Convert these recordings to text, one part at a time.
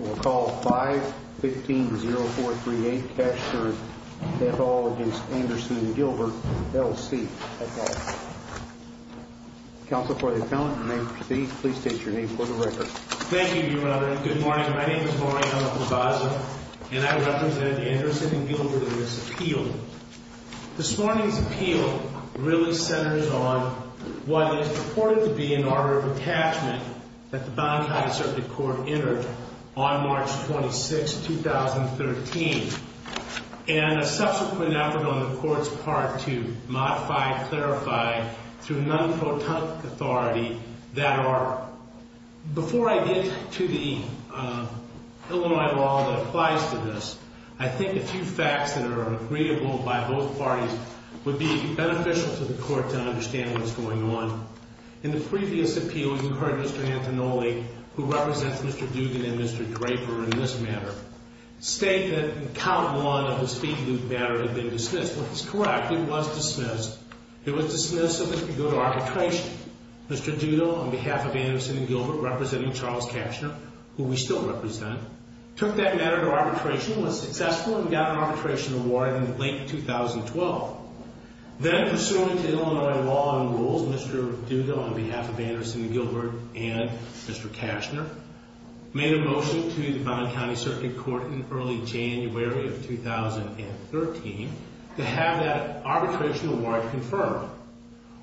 We will call 5-15-0438, Cashner v. Anderson & Gilbert, L.C. Counsel for the appellant, your name, please state your name for the record. Thank you, Your Honor. Good morning. My name is Maureen L. Labaza, and I represent Anderson & Gilbert in this appeal. This morning's appeal really centers on what is purported to be an order of attachment that the Bonn County Circuit Court entered on March 26, 2013, and a subsequent effort on the Court's part to modify and clarify through non-protonic authority that are, before I get to the Illinois law that applies to this, I think a few facts that are agreeable by both parties would be beneficial to the Court to understand what is going on. In the previous appeal, you heard Mr. Antinoli, who represents Mr. Dugan and Mr. Draper in this matter, state that in count one of the speed loop matter had been dismissed. Well, he's correct, it was dismissed. It was dismissed so that it could go to arbitration. Mr. Dugan, on behalf of Anderson & Gilbert, representing Charles Cashner, who we still represent, took that matter to arbitration, was successful, and got an arbitration award in late 2012. Then, pursuant to Illinois law and rules, Mr. Dugan, on behalf of Anderson & Gilbert and Mr. Cashner, made a motion to the Bonn County Circuit Court in early January of 2013 to have that arbitration award confirmed.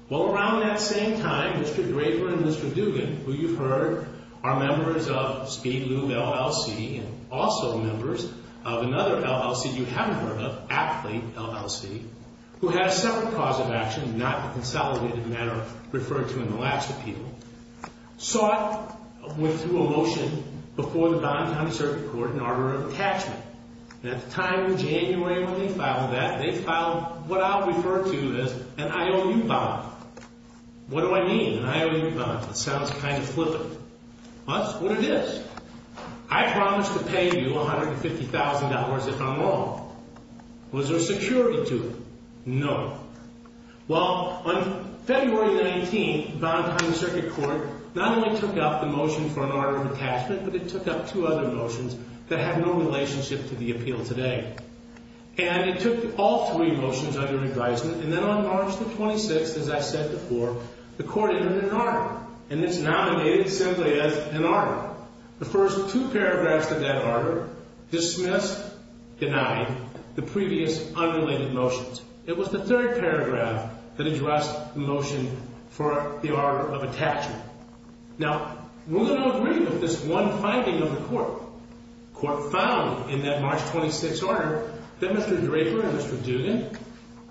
Well, around that same time, Mr. Draper and Mr. Dugan, who you've heard are members of Speed Loop LLC and also members of another LLC you haven't heard of, Athlete LLC, who had a separate cause of action, not a consolidated matter referred to in the last appeal, sought, went through a motion before the Bonn County Circuit Court in order of attachment, and at the time in January when they filed that, they filed what I'll refer to as an IOU bond. What do I mean, an IOU bond? It sounds kind of flippant. Well, that's what it is. I promise to pay you $150,000 if I'm wrong. Was there security to it? No. Well, on February 19th, the Bonn County Circuit Court not only took up the motion for an order of attachment, but it took up two other motions that have no relationship to the appeal today. And it took all three motions under advisement, and then on March the 26th, as I said before, the court entered an order, and it's nominated simply as an order. The first two paragraphs of that order dismissed, denied the previous unrelated motions. It was the third paragraph that addressed the motion for the order of attachment. Now, we're going to agree with this one finding of the court. The court found in that March 26th order that Mr. Draper and Mr. Dugan,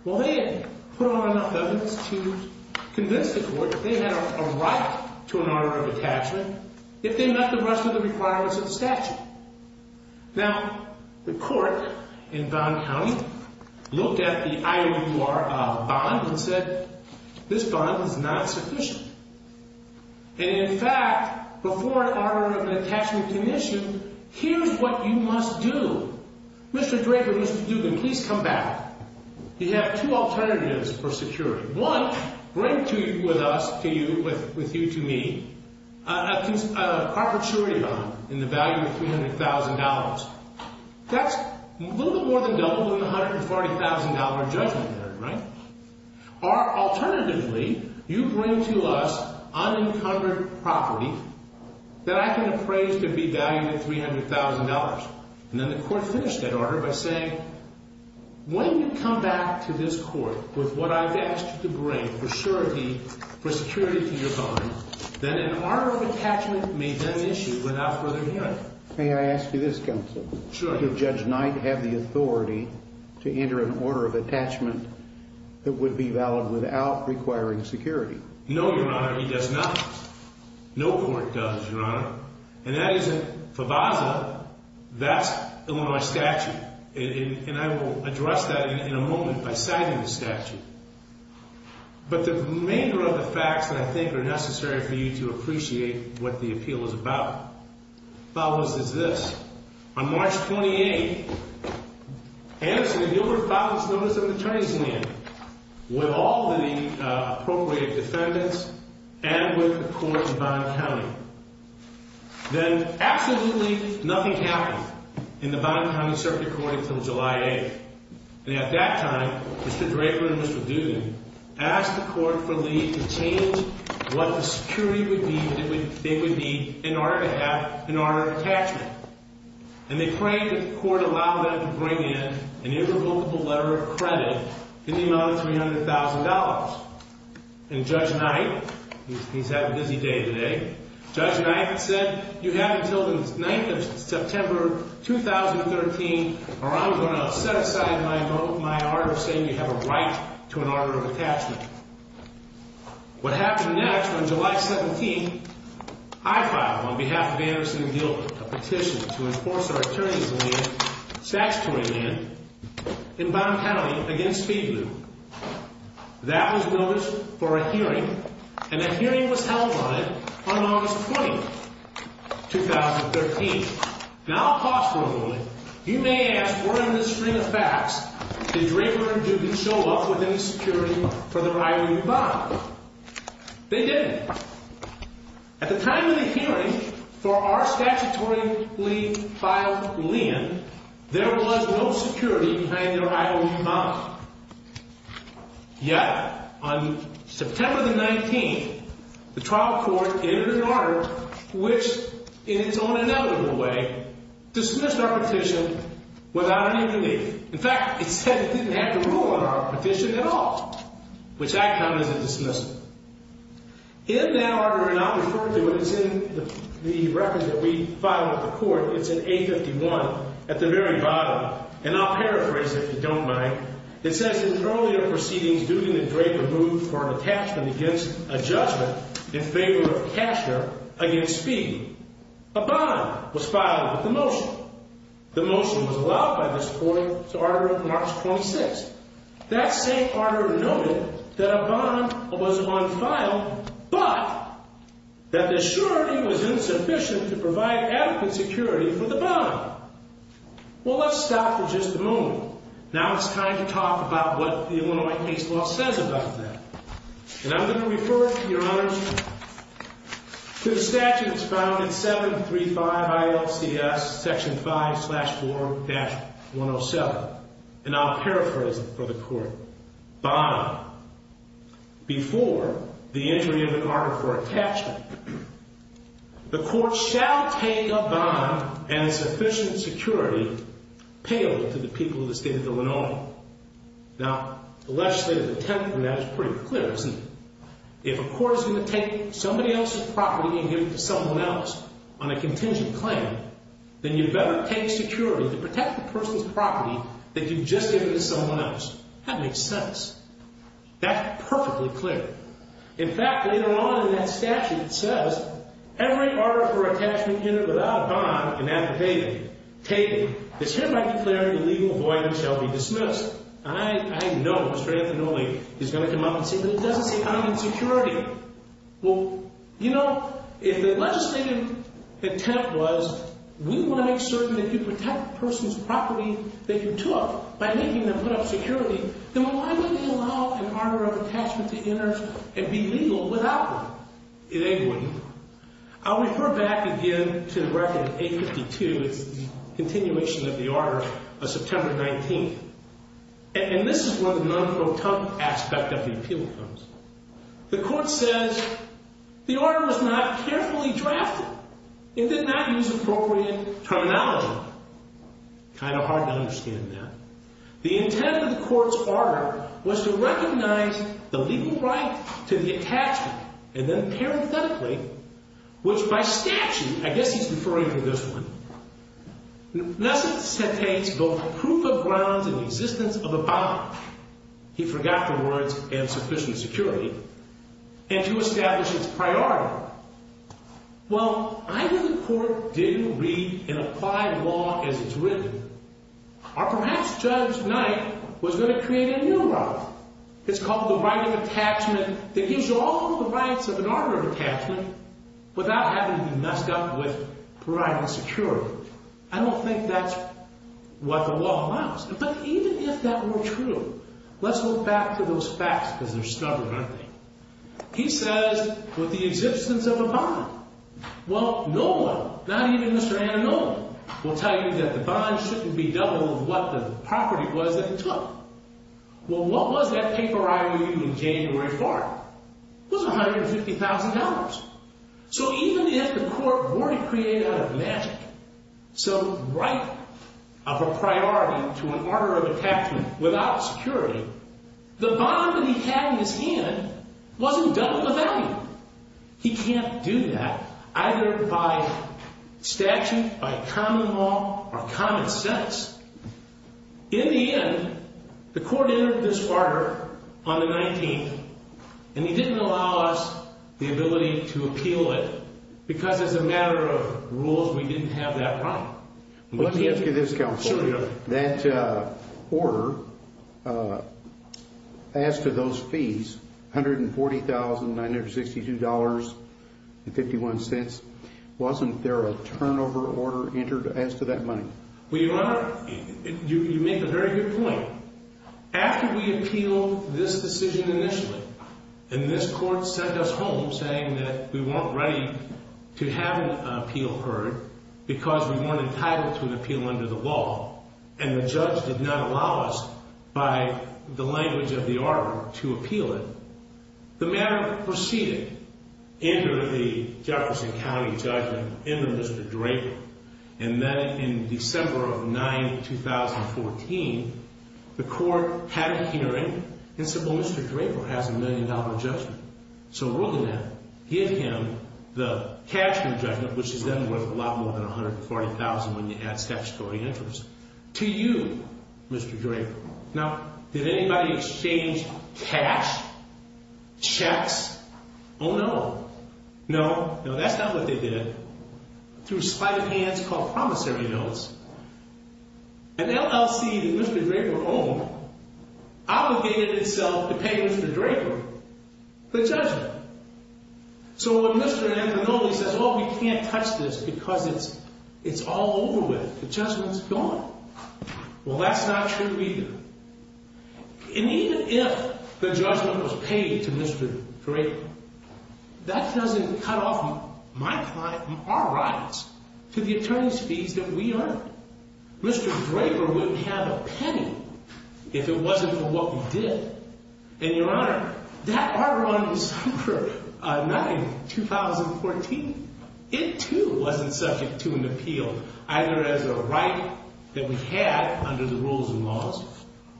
well, they had put on evidence to convince the court that they had a right to an order of attachment if they met the rest of the requirements of the statute. Now, the court in Bonn County looked at the IOUR bond and said, this bond is not sufficient. And in fact, before an order of attachment commission, here's what you must do. Mr. Draper, Mr. Dugan, please come back. You have two alternatives for security. One, bring to you with us, to you, with you to me, a property bond in the value of $300,000. That's a little bit more than double the $140,000 judgment there, right? Or alternatively, you bring to us unencumbered property that I can appraise to be valued at $300,000. And then the court finished that order by saying, when you come back to this court with what I've asked you to bring for surety, for security to your bond, then an order of attachment may then issue without further hearing. May I ask you this, counsel? Sure. Does Judge Knight have the authority to enter an order of attachment that would be valid without requiring security? No, Your Honor, he does not. No court does, Your Honor. And that isn't for Favazza. That's Illinois statute. And I will address that in a moment by citing the statute. But the remainder of the facts that I think are necessary for you to appreciate what the appeal is about, Favazza, is this. On March 28th, Anderson and Gilbert filed this notice of attorneyship with all the appropriated defendants and with the court in Bond County. Then absolutely nothing happened in the Bond County circuit court until July 8th. And at that time, Mr. Draper and Mr. Duden asked the court for leave to change what the security they would need in order to have an order of attachment. And they prayed that the court allow them to bring in an irrevocable letter of credit in the amount of $300,000. And Judge Knight, he's had a busy day today, Judge Knight said you have until the 9th of September 2013 or I'm going to set aside my vote, my order, saying you have a right to an order of attachment. What happened next on July 17th, I filed on behalf of Anderson and Gilbert a petition to enforce our attorney's land, statutory land, in Bond County against Speed Blue. That was noticed for a hearing and a hearing was held on it on August 20th, 2013. Now, I'll pause for a moment. You may ask, were in the stream of facts did Draper and Duden show up with any security for their IOU bond? They didn't. At the time of the hearing for our statutory leave filed land, there was no security behind their IOU bond. Yet, on September the 19th, the trial court entered an order which in its own inevitable way dismissed our petition without any relief. In fact, it said it didn't have to rule on our petition at all, which I count as a dismissal. In that order, and I'll refer to it, it's in the record that we filed with the court, it's in A51 at the very bottom, and I'll paraphrase if you don't mind. It says in earlier proceedings, Duden and Draper moved for an attachment against a judgment in favor of cashier against Speed. A bond was filed with the motion. The motion was allowed by this court to order March 26th. That same order noted that a bond was unfiled, but that the surety was insufficient to provide adequate security for the bond. Well, let's stop for just a moment. Now it's time to talk about what the Illinois case law says about that. And I'm going to refer, Your Honors, to the statute that's found in 735 ILCS Section 5 slash 4 dash 107. And I'll paraphrase it for the court. Bond. Before the entry of an order for attachment, the court shall take a bond and sufficient security payable to the people of the state of Illinois. Now, the legislative intent in that is pretty clear, isn't it? If a court is going to take somebody else's property and give it to someone else on a contingent claim, then you better take security to protect the person's property that you've just given to someone else. That makes sense. That's perfectly clear. In fact, later on in that statute, it says, I know Mr. Anthony is going to come up and say, but it doesn't say I need security. Well, you know, if the legislative intent was, we want to make certain that you protect the person's property that you took by making them put up security, then why would they allow an order of attachment to inners and be legal without them? They wouldn't. I'll refer back again to the record, A52. It's the continuation of the order of September 19th. And this is where the non-proton aspect of the appeal comes. The court says the order was not carefully drafted. It did not use appropriate terminology. Kind of hard to understand that. The intent of the court's order was to recognize the legal right to the attachment, and then parenthetically, which by statute, I guess he's referring to this one, He forgot the words, and sufficient security, and to establish its priority. Well, either the court didn't read and apply law as it's written, or perhaps Judge Knight was going to create a new law. It's called the right of attachment that gives you all of the rights of an order of attachment without having to be messed up with providing security. I don't think that's what the law allows. But even if that were true, let's look back to those facts, because they're stubborn, aren't they? He says, with the existence of a bond. Well, no one, not even Mr. Anamola, will tell you that the bond shouldn't be double of what the property was that he took. Well, what was that paper I read in January 4th? It was $150,000. So even if the court were to create out of magic some right of a priority to an order of attachment without security, the bond that he had in his hand wasn't double the value. He can't do that either by statute, by common law, or common sense. In the end, the court entered this order on the 19th, and he didn't allow us the ability to appeal it, because as a matter of rules, we didn't have that right. Let me ask you this, Counselor. That order, as to those fees, $140,962.51, wasn't there a turnover order entered as to that money? Well, Your Honor, you make a very good point. After we appealed this decision initially, and this court sent us home saying that we weren't ready to have an appeal heard because we weren't entitled to an appeal under the law, and the judge did not allow us, by the language of the order, to appeal it, the matter proceeded under the Jefferson County judgment under Mr. Draper, and then in December of 2014, the court had a hearing and said, well, Mr. Draper has a million-dollar judgment, so we're going to give him the cash rejectment, which is then worth a lot more than $140,000 when you add statutory interest, to you, Mr. Draper. Now, did anybody exchange cash, checks? Oh, no. No, that's not what they did. They did it through a sleight of hands called promissory notes. An LLC that Mr. Draper owned obligated itself to pay Mr. Draper the judgment. So when Mr. Angonoli says, oh, we can't touch this because it's all over with, the judgment's gone, well, that's not true either. And even if the judgment was paid to Mr. Draper, that doesn't cut off my client from our rights to the attorney's fees that we earned. Mr. Draper wouldn't have a penny if it wasn't for what we did. And, Your Honor, that order on December 9, 2014, it, too, wasn't subject to an appeal, either as a right that we had under the rules and laws,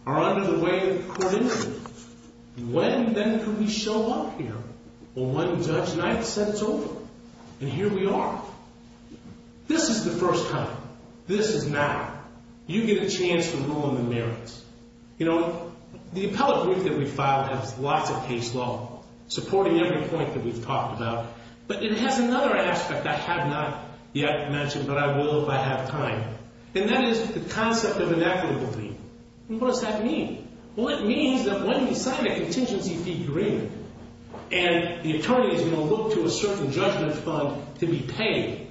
or under the way of the Court of Impeachment. And when, then, could we show up here when one Judge Knight said it's over? And here we are. This is the first time. This is now. You get a chance to rule on the merits. You know, the appellate brief that we filed has lots of case law supporting every point that we've talked about, but it has another aspect I have not yet mentioned, but I will if I have time. And that is the concept of inequitability. And what does that mean? Well, it means that when we sign a contingency fee agreement, and the attorney is going to look to a certain judgment fund to be paid,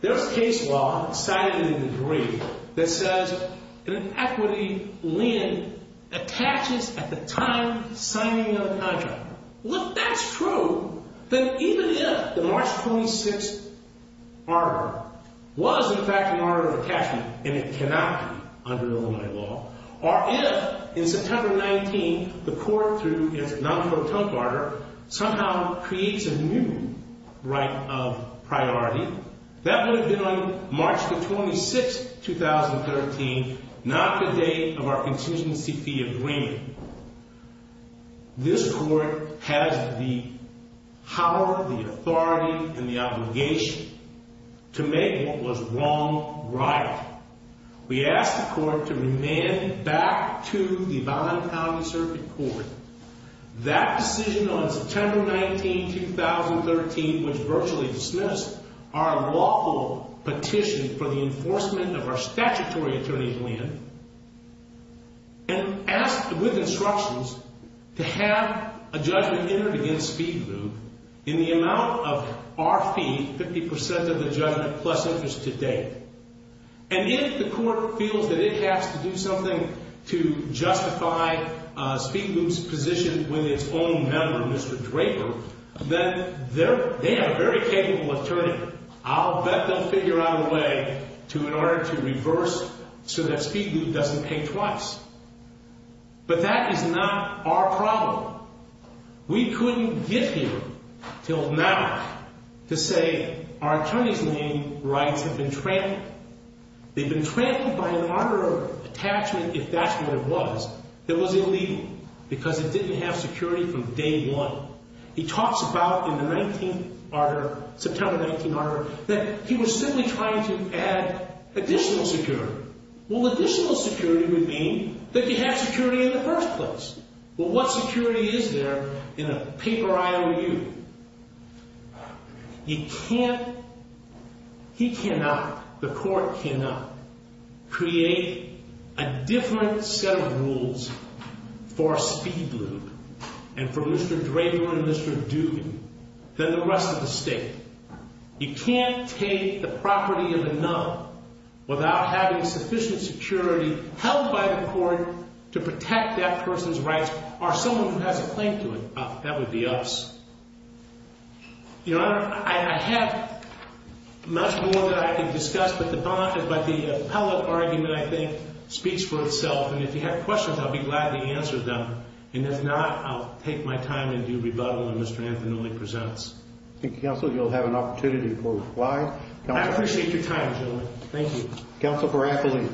there's case law, cited in the degree, that says an inequity lien attaches at the time of signing the contract. Well, if that's true, then even if the March 26th article was, in fact, an order of attachment, and it cannot be under Illinois law, or if, in September 19, the Court, through its non-court-of-attempt order, somehow creates a new right of priority, that would have been on March the 26th, 2013, not the day of our contingency fee agreement. This Court has the power, the authority, and the obligation to make what was wrong, right. We asked the Court to remand it back to the Bonham County Circuit Court. That decision on September 19, 2013, which virtually dismissed our lawful petition for the enforcement of our statutory attorney's lien, and asked, with instructions, to have a judgment entered against Speed Loop, in the amount of our fee, 50% of the judgment, plus interest to date. And if the Court feels that it has to do something to justify Speed Loop's position with its own member, Mr. Draper, then they are a very capable attorney. I'll bet they'll figure out a way to, in order to reverse, so that Speed Loop doesn't pay twice. But that is not our problem. We couldn't get here, till now, to say our attorney's lien rights have been trampled. They've been trampled by an order of attachment, if that's what it was, that was illegal, because it didn't have security from day one. He talks about, in the 19th Ardor, September 19 Ardor, that he was simply trying to add additional security. Well, additional security would mean that you have security in the first place. Well, what security is there in a paper I.O.U.? You can't, he cannot, the Court cannot, create a different set of rules for Speed Loop, and for Mr. Draper and Mr. Doogan, than the rest of the state. You can't take the property of a nun without having sufficient security held by the Court to protect that person's rights, or someone who has a claim to it. That would be us. Your Honor, I have much more that I can discuss, but the appellate argument, I think, speaks for itself. And if you have questions, I'll be glad to answer them. And if not, I'll take my time and do rebuttal when Mr. Anthony presents. Thank you, Counsel. You'll have an opportunity to go live. I appreciate your time, gentlemen. Thank you. Counsel Baratole.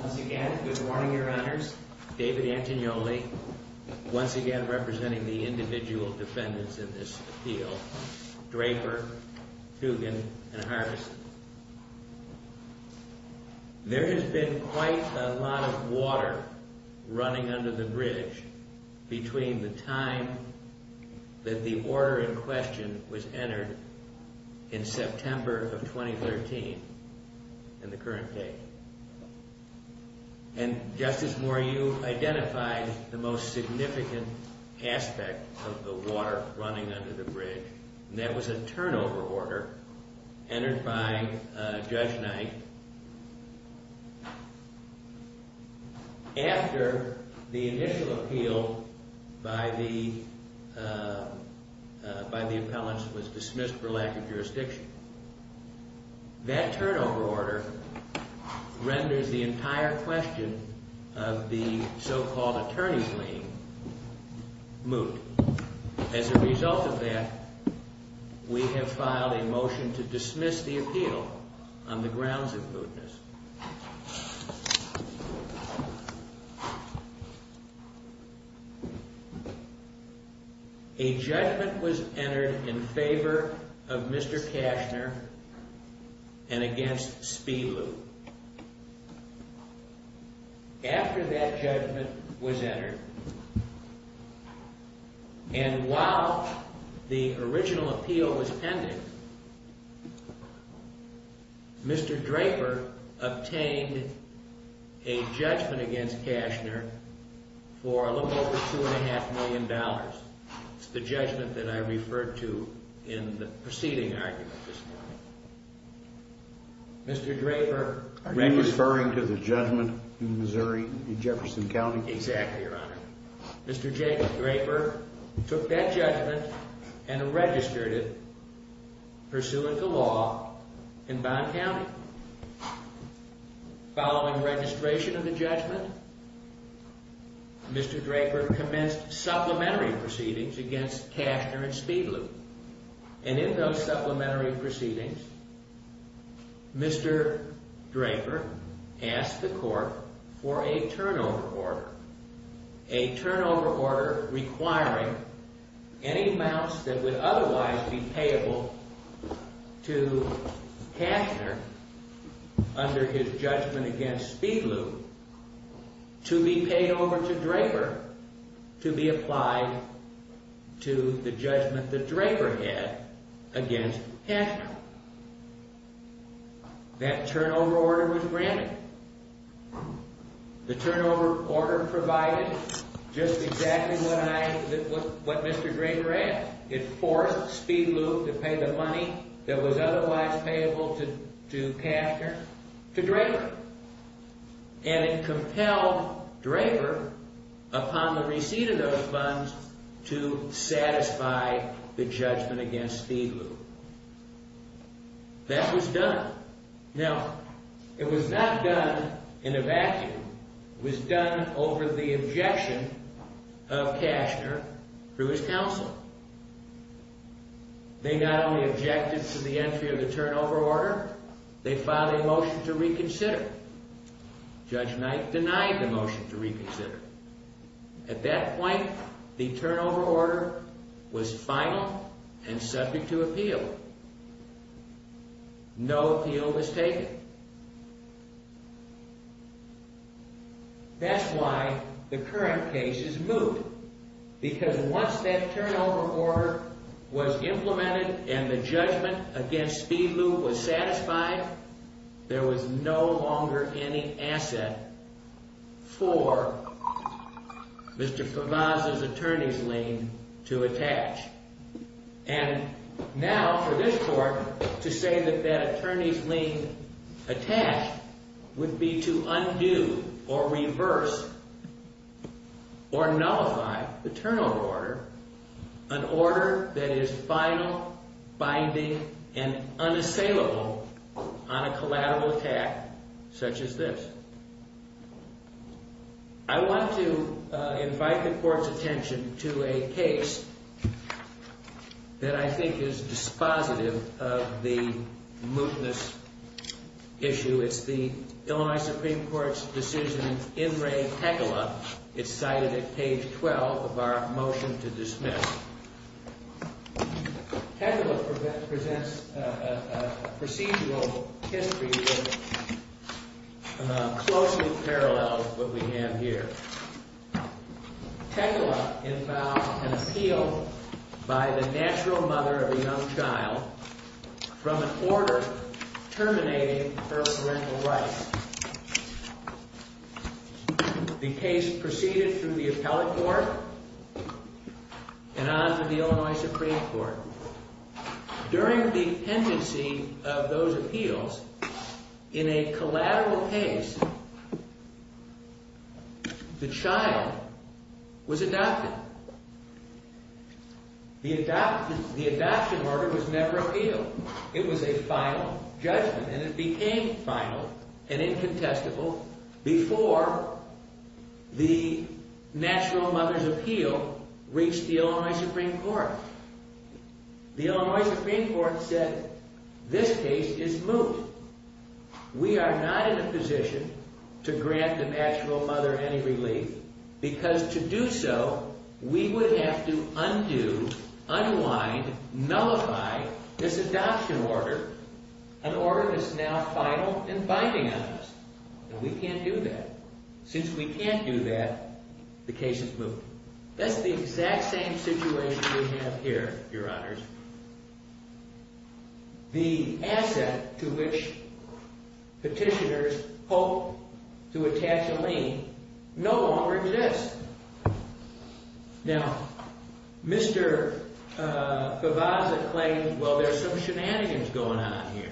Once again, good morning, Your Honors. David Antignoli, once again representing the individual defendants in this appeal. Draper, Doogan, and Harvison. There has been quite a lot of water running under the bridge between the time that the order in question was entered in September of 2013 and the current date. And, Justice Moore, you identified the most significant aspect of the water running under the bridge, and that was a turnover order entered by Judge Knight after the initial appeal by the appellants was dismissed for lack of jurisdiction. That turnover order renders the entire question of the so-called attorney's lien moot. As a result of that, we have filed a motion to dismiss the appeal on the grounds of mootness. A judgment was entered in favor of Mr. Cashner and against Spilu. After that judgment was entered, and while the original appeal was pending, Mr. Draper obtained a judgment against Cashner for a little over $2.5 million. It's the judgment that I referred to in the preceding argument this morning. Mr. Draper... Are you referring to the judgment in Missouri, in Jefferson County? Exactly, Your Honor. Mr. Draper took that judgment and registered it, pursuing the law, in Bond County. Following registration of the judgment, Mr. Draper commenced supplementary proceedings against Cashner and Spilu. And in those supplementary proceedings, Mr. Draper asked the court for a turnover order. A turnover order requiring any amounts that would otherwise be payable to Cashner under his judgment against Spilu to be paid over to Draper to be applied to the judgment that Draper had against Cashner. That turnover order was granted. The turnover order provided just exactly what Mr. Draper asked. It forced Spilu to pay the money that was otherwise payable to Cashner to Draper. And it compelled Draper, upon the receipt of those funds, to satisfy the judgment against Spilu. That was done. Now, it was not done in a vacuum. It was done over the objection of Cashner through his counsel. They not only objected to the entry of the turnover order, they filed a motion to reconsider. Judge Knight denied the motion to reconsider. At that point, the turnover order was final and subject to appeal. No appeal was taken. That's why the current case is moved. Because once that turnover order was implemented and the judgment against Spilu was satisfied, there was no longer any asset for Mr. Favaz's attorney's lien to attach. And now, for this Court, to say that that attorney's lien attached would be to undo or reverse or nullify the turnover order, an order that is final, binding, and unassailable on a collateral attack such as this. I want to invite the Court's attention to a case that I think is dispositive of the mootness issue. It's the Illinois Supreme Court's decision in In Re Tequila. It's cited at page 12 of our motion to dismiss. Tequila presents a procedural history that closely parallels what we have here. Tequila invoked an appeal by the natural mother of a young child from an order terminating her parental rights. The case proceeded through the appellate court and on to the Illinois Supreme Court. During the pendency of those appeals, in a collateral case, the child was adopted. The adoption order was never appealed. It was a final judgment, and it became final and incontestable before the natural mother's appeal reached the Illinois Supreme Court. The Illinois Supreme Court said, this case is moot. We are not in a position to grant the natural mother any relief because to do so, we would have to undo, unwind, nullify this adoption order, an order that's now final and binding on us. And we can't do that. Since we can't do that, the case is moot. That's the exact same situation we have here, Your Honors. The asset to which petitioners hope to attach a lien no longer exists. Now, Mr. Fevaza claimed, well, there's some shenanigans going on here.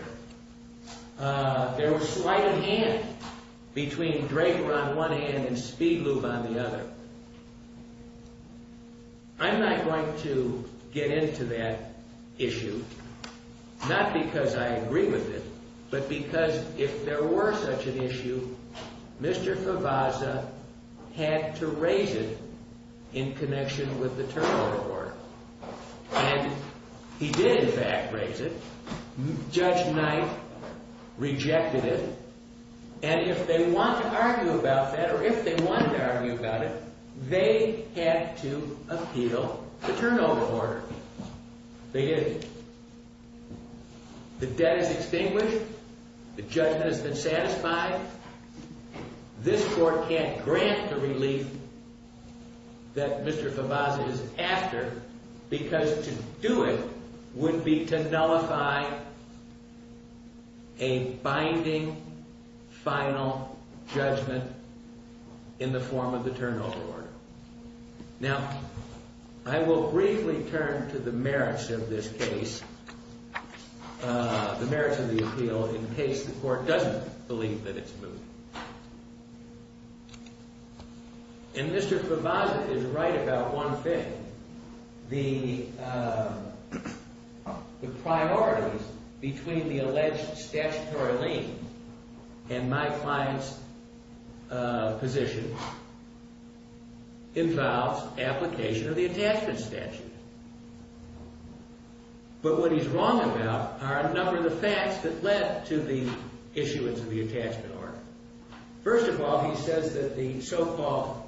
There was slight of hand between Draper on one end and Speedlube on the other. I'm not going to get into that issue, not because I agree with it, but because if there were such an issue, Mr. Fevaza had to raise it in connection with the terminal court. And he did, in fact, raise it. Judge Knight rejected it. And if they want to argue about that, or if they wanted to argue about it, they had to appeal the turnover order. They didn't. The debt is extinguished. The judgment has been satisfied. This Court can't grant the relief that Mr. Fevaza is after because to do it would be to nullify a binding final judgment in the form of the turnover order. Now, I will briefly turn to the merits of this case, the merits of the appeal, in case the Court doesn't believe that it's moved. And Mr. Fevaza is right about one thing. The priorities between the alleged statutory lien and my client's position involves application of the attachment statute. But what he's wrong about are a number of the facts that led to the issuance of the attachment order. First of all, he says that the so-called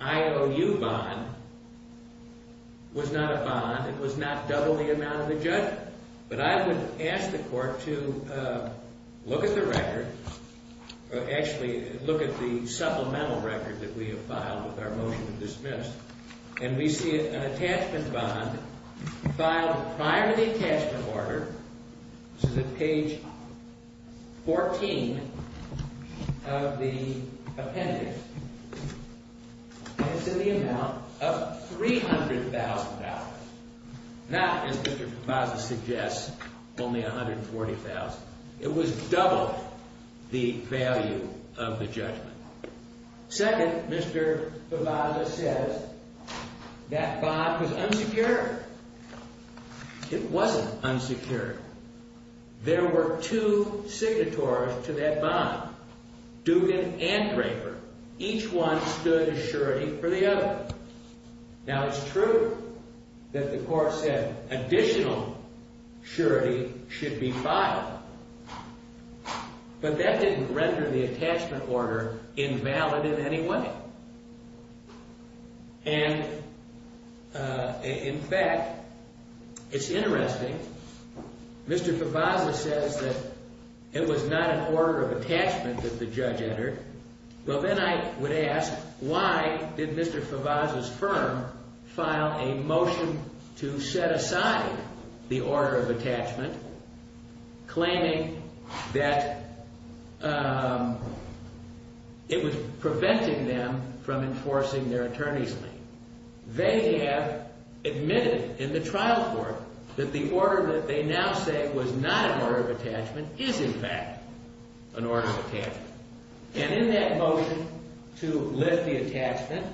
IOU bond was not a bond. It was not double the amount of the judgment. But I would ask the Court to look at the record. Actually, look at the supplemental record that we have filed with our motion to dismiss. And we see an attachment bond filed prior to the attachment order. This is at page 14 of the appendix. And it's in the amount of $300,000, not, as Mr. Fevaza suggests, only $140,000. It was double the value of the judgment. Second, Mr. Fevaza says that bond was unsecured. It wasn't unsecured. There were two signatories to that bond, Dugan and Draper. Each one stood a surety for the other. Now, it's true that the Court said additional surety should be filed. But that didn't render the attachment order invalid in any way. And, in fact, it's interesting. Mr. Fevaza says that it was not an order of attachment that the judge entered. Well, then I would ask, why did Mr. Fevaza's firm file a motion to set aside the order of attachment claiming that it was preventing them from enforcing their attorney's lien? They have admitted in the trial court that the order that they now say was not an order of attachment is, in fact, an order of attachment. And in that motion to lift the attachment,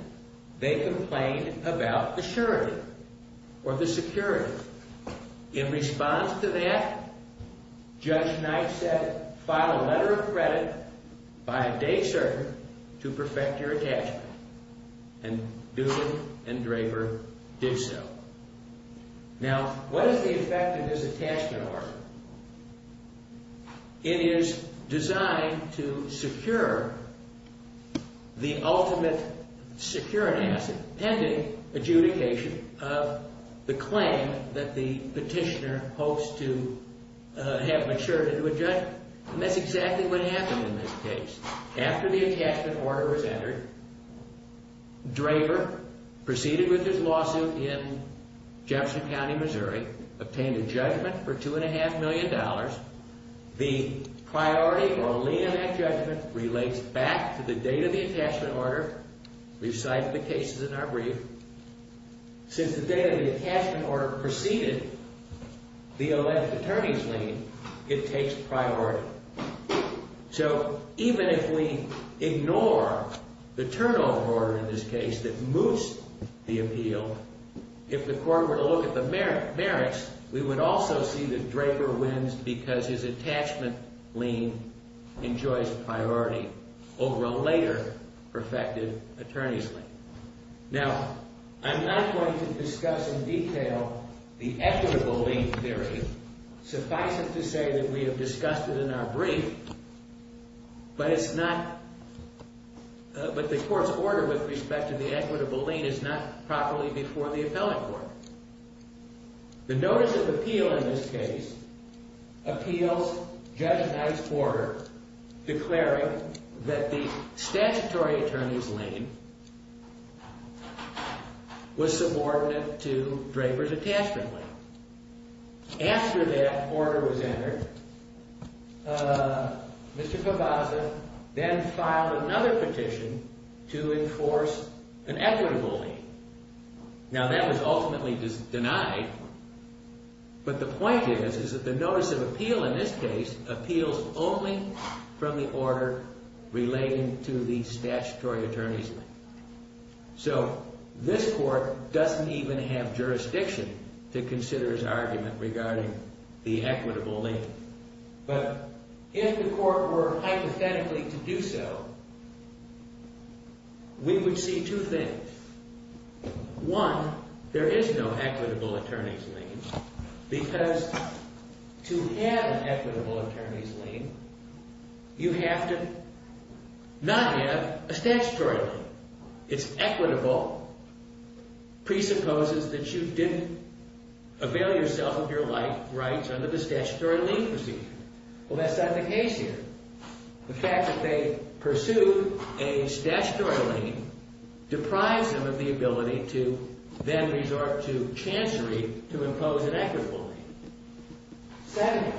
they complained about the surety or the security. In response to that, Judge Knight said file a letter of credit by a day server to perfect your attachment. And Dugan and Draper did so. Now, what is the effect of this attachment order? It is designed to secure the ultimate security asset pending adjudication of the claim that the petitioner hopes to have matured into a judgment. And that's exactly what happened in this case. After the attachment order was entered, Draper proceeded with his lawsuit in Jefferson County, Missouri, obtained a judgment for $2.5 million. The priority or lien of that judgment relates back to the date of the attachment order. We've cited the cases in our brief. Since the date of the attachment order preceded the alleged attorney's lien, it takes priority. So even if we ignore the turnover order in this case that moots the appeal, if the court were to look at the merits, we would also see that Draper wins because his attachment lien enjoys priority over a later perfected attorney's lien. Now, I'm not going to discuss in detail the equitable lien theory. Suffice it to say that we have discussed it in our brief, but the court's order with respect to the equitable lien is not properly before the appellate court. The notice of appeal in this case appeals Judge Knight's order declaring that the statutory attorney's lien was subordinate to Draper's attachment lien. After that order was entered, Mr. Pavaza then filed another petition to enforce an equitable lien. Now, that was ultimately denied, but the point is is that the notice of appeal in this case appeals only from the order relating to the statutory attorney's lien. So this court doesn't even have jurisdiction to consider his argument regarding the equitable lien, but if the court were hypothetically to do so, we would see two things. One, there is no equitable attorney's lien because to have an equitable attorney's lien, you have to not have a statutory lien. It's equitable presupposes that you didn't avail yourself of your rights under the statutory lien procedure. Well, that's not the case here. The fact that they pursued a statutory lien deprives them of the ability to then resort to chancery to impose an equitable lien. Second,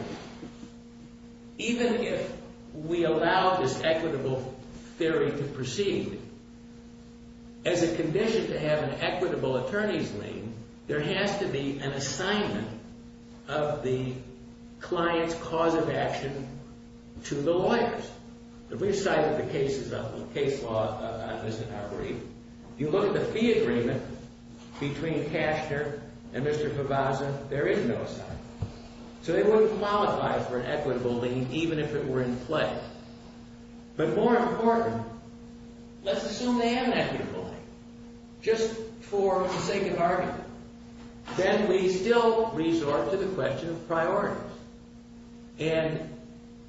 even if we allow this equitable theory to proceed, as a condition to have an equitable attorney's lien, there has to be an assignment of the client's cause of action to the lawyers. If we cited the case law on this in our brief, you look at the fee agreement between Cashner and Mr. Pavaza, there is no assignment. So they wouldn't qualify for an equitable lien even if it were in play. But more important, let's assume they have an equitable lien just for the sake of argument. Then we still resort to the question of priorities. And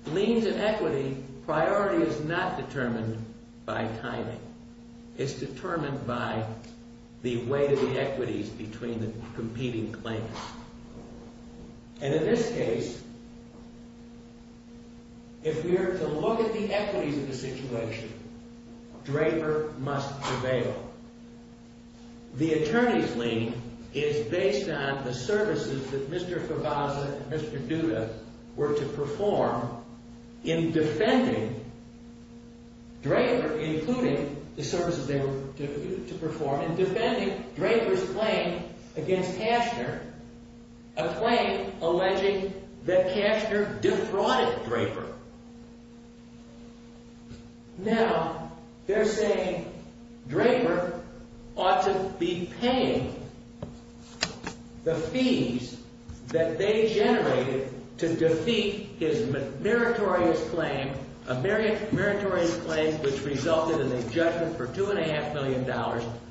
liens and equity, priority is not determined by timing. It's determined by the weight of the equities between the competing claims. And in this case, if we are to look at the equities of the situation, Draper must avail. The attorney's lien is based on the services that Mr. Pavaza and Mr. Duda were to perform in defending Draper, including the services they were to perform in defending Draper's claim against Cashner, a claim alleging that Cashner defrauded Draper. Now, they're saying Draper ought to be paying the fees that they generated to defeat his meritorious claim, a meritorious claim which resulted in a judgment for $2.5 million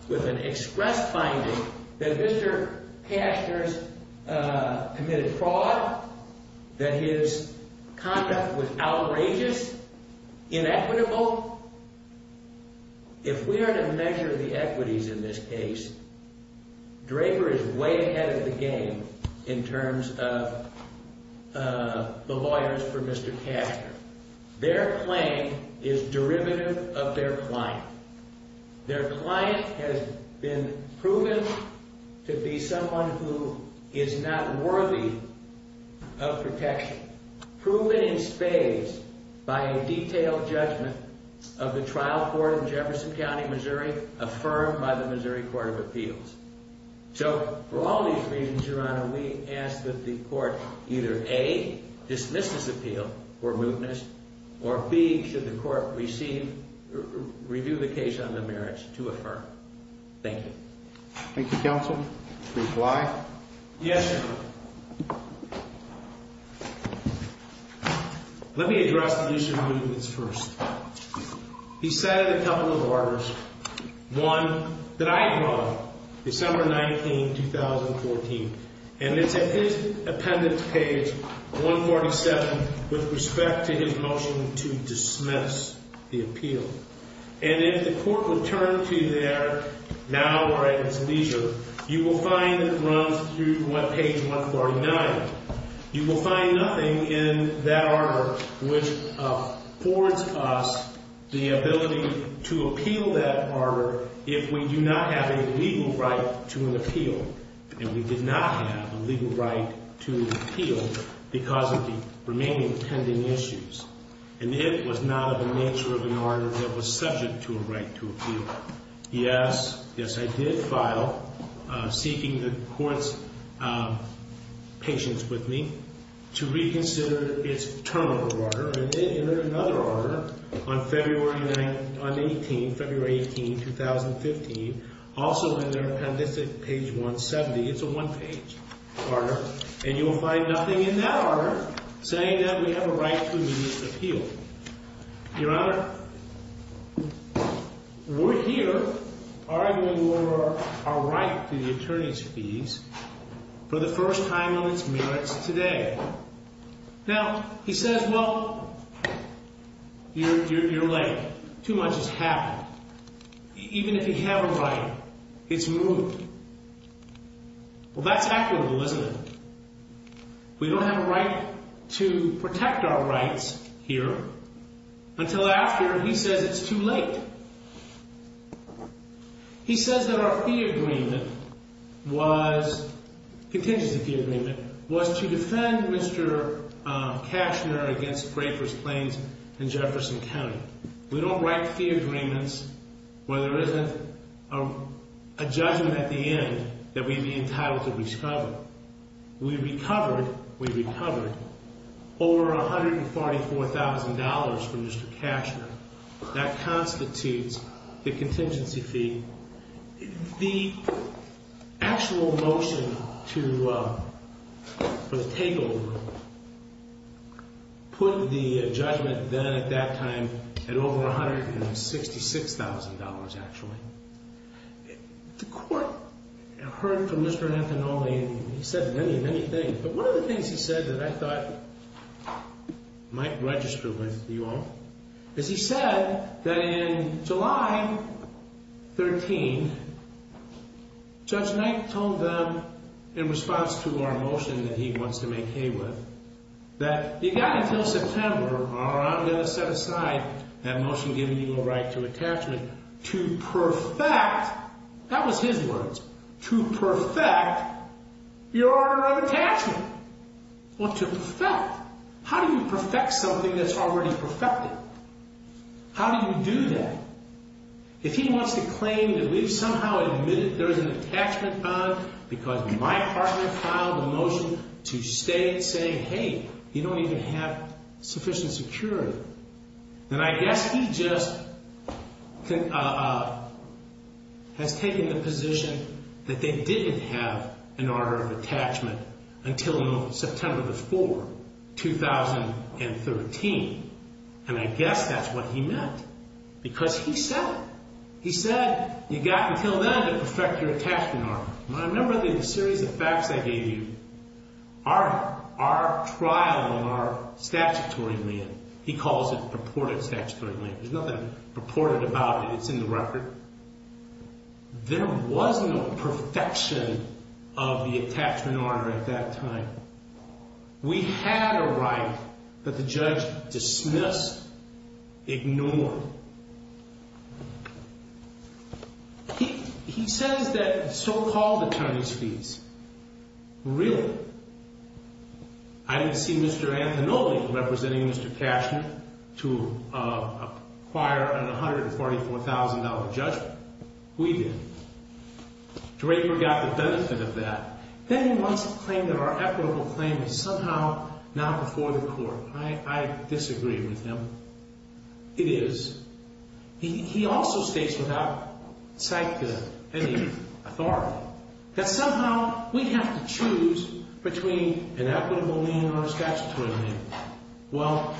with an express finding that Mr. Cashner's committed fraud, that his conduct was outrageous, inequitable. If we are to measure the equities in this case, Draper is way ahead of the game in terms of the lawyers for Mr. Cashner. Their claim is derivative of their client. Their client has been proven to be someone who is not worthy of protection, proven in spades by a detailed judgment of the trial court in Jefferson County, Missouri, affirmed by the Missouri Court of Appeals. So, for all these reasons, Your Honor, we ask that the court either, A, dismiss this appeal for mootness, or, B, should the court receive, review the case on the merits to affirm. Thank you. Thank you, counsel. Reply? Yes, Your Honor. Let me address the issue of mootness first. He cited a couple of orders, one that I brought, December 19, 2014, and it's at his appendix page 147 with respect to his motion to dismiss the appeal. And if the court would turn to there now or at its leisure, you will find it runs through page 149. You will find nothing in that order which affords us the ability to appeal that order if we do not have a legal right to an appeal. And we did not have a legal right to appeal because of the remaining pending issues. And it was not of the nature of an order that was subject to a right to appeal. Yes, yes, I did file, seeking the court's patience with me, to reconsider its term of order, and then another order on February 18, 2015, also in their appendix at page 170. It's a one-page order. And you will find nothing in that order saying that we have a right to an immediate appeal. Your Honor, we're here arguing for our right to the attorney's fees for the first time on its merits today. Now, he says, well, you're late. Too much has happened. Even if you have a right, it's moot. Well, that's equitable, isn't it? We don't have a right to protect our rights here until after he says it's too late. He says that our fee agreement was, contingency fee agreement, was to defend Mr. Cashner against Graper's Plains and Jefferson County. We don't write fee agreements where there isn't a judgment at the end that we'd be entitled to recover. We recovered, we recovered, over $144,000 from Mr. Cashner. That constitutes the contingency fee. The actual motion for the takeover put the judgment then, at that time, at over $166,000, actually. The court heard from Mr. Anthony, and he said many, many things. But one of the things he said that I thought might register with you all is he said that in July 13, Judge Knight told them in response to our motion that he wants to make hay with, that he got until September, I'm going to set aside that motion giving you a right to attachment to perfect, that was his words, to perfect your order of attachment. Well, to perfect. How do you perfect something that's already perfected? How do you do that? If he wants to claim that we've somehow admitted there's an attachment bond because my partner filed a motion to state saying, hey, you don't even have sufficient security, then I guess he just has taken the position that they didn't have an order of attachment until September the 4th, 2013. And I guess that's what he meant. Because he said it. He said you got until then to perfect your attachment order. Remember the series of facts I gave you? Our trial in our statutory land, he calls it purported statutory land. There's nothing purported about it. It's in the record. There was no perfection of the attachment order at that time. We had a right that the judge dismissed, ignored. He says that so-called attorney's fees, really? I didn't see Mr. Antonoli representing Mr. Cashman to acquire an $144,000 judgment. We did. Draper got the benefit of that. Then he wants to claim that our equitable claim is somehow not before the court. I disagree with him. It is. He also states without sight to any authority that somehow we have to choose between an equitable lien or a statutory lien. Well,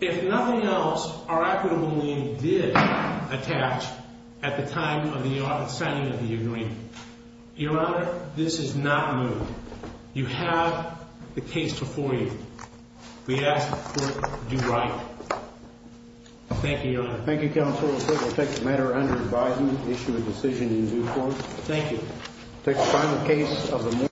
if nothing else, our equitable lien did attach at the time of the signing of the agreement. Your Honor, this is not moved. You have the case before you. We ask that the court do right. Thank you, Your Honor. Thank you, Counsel. We'll take the matter under advisement, issue a decision in due course. Thank you. We'll take the final case of the morning.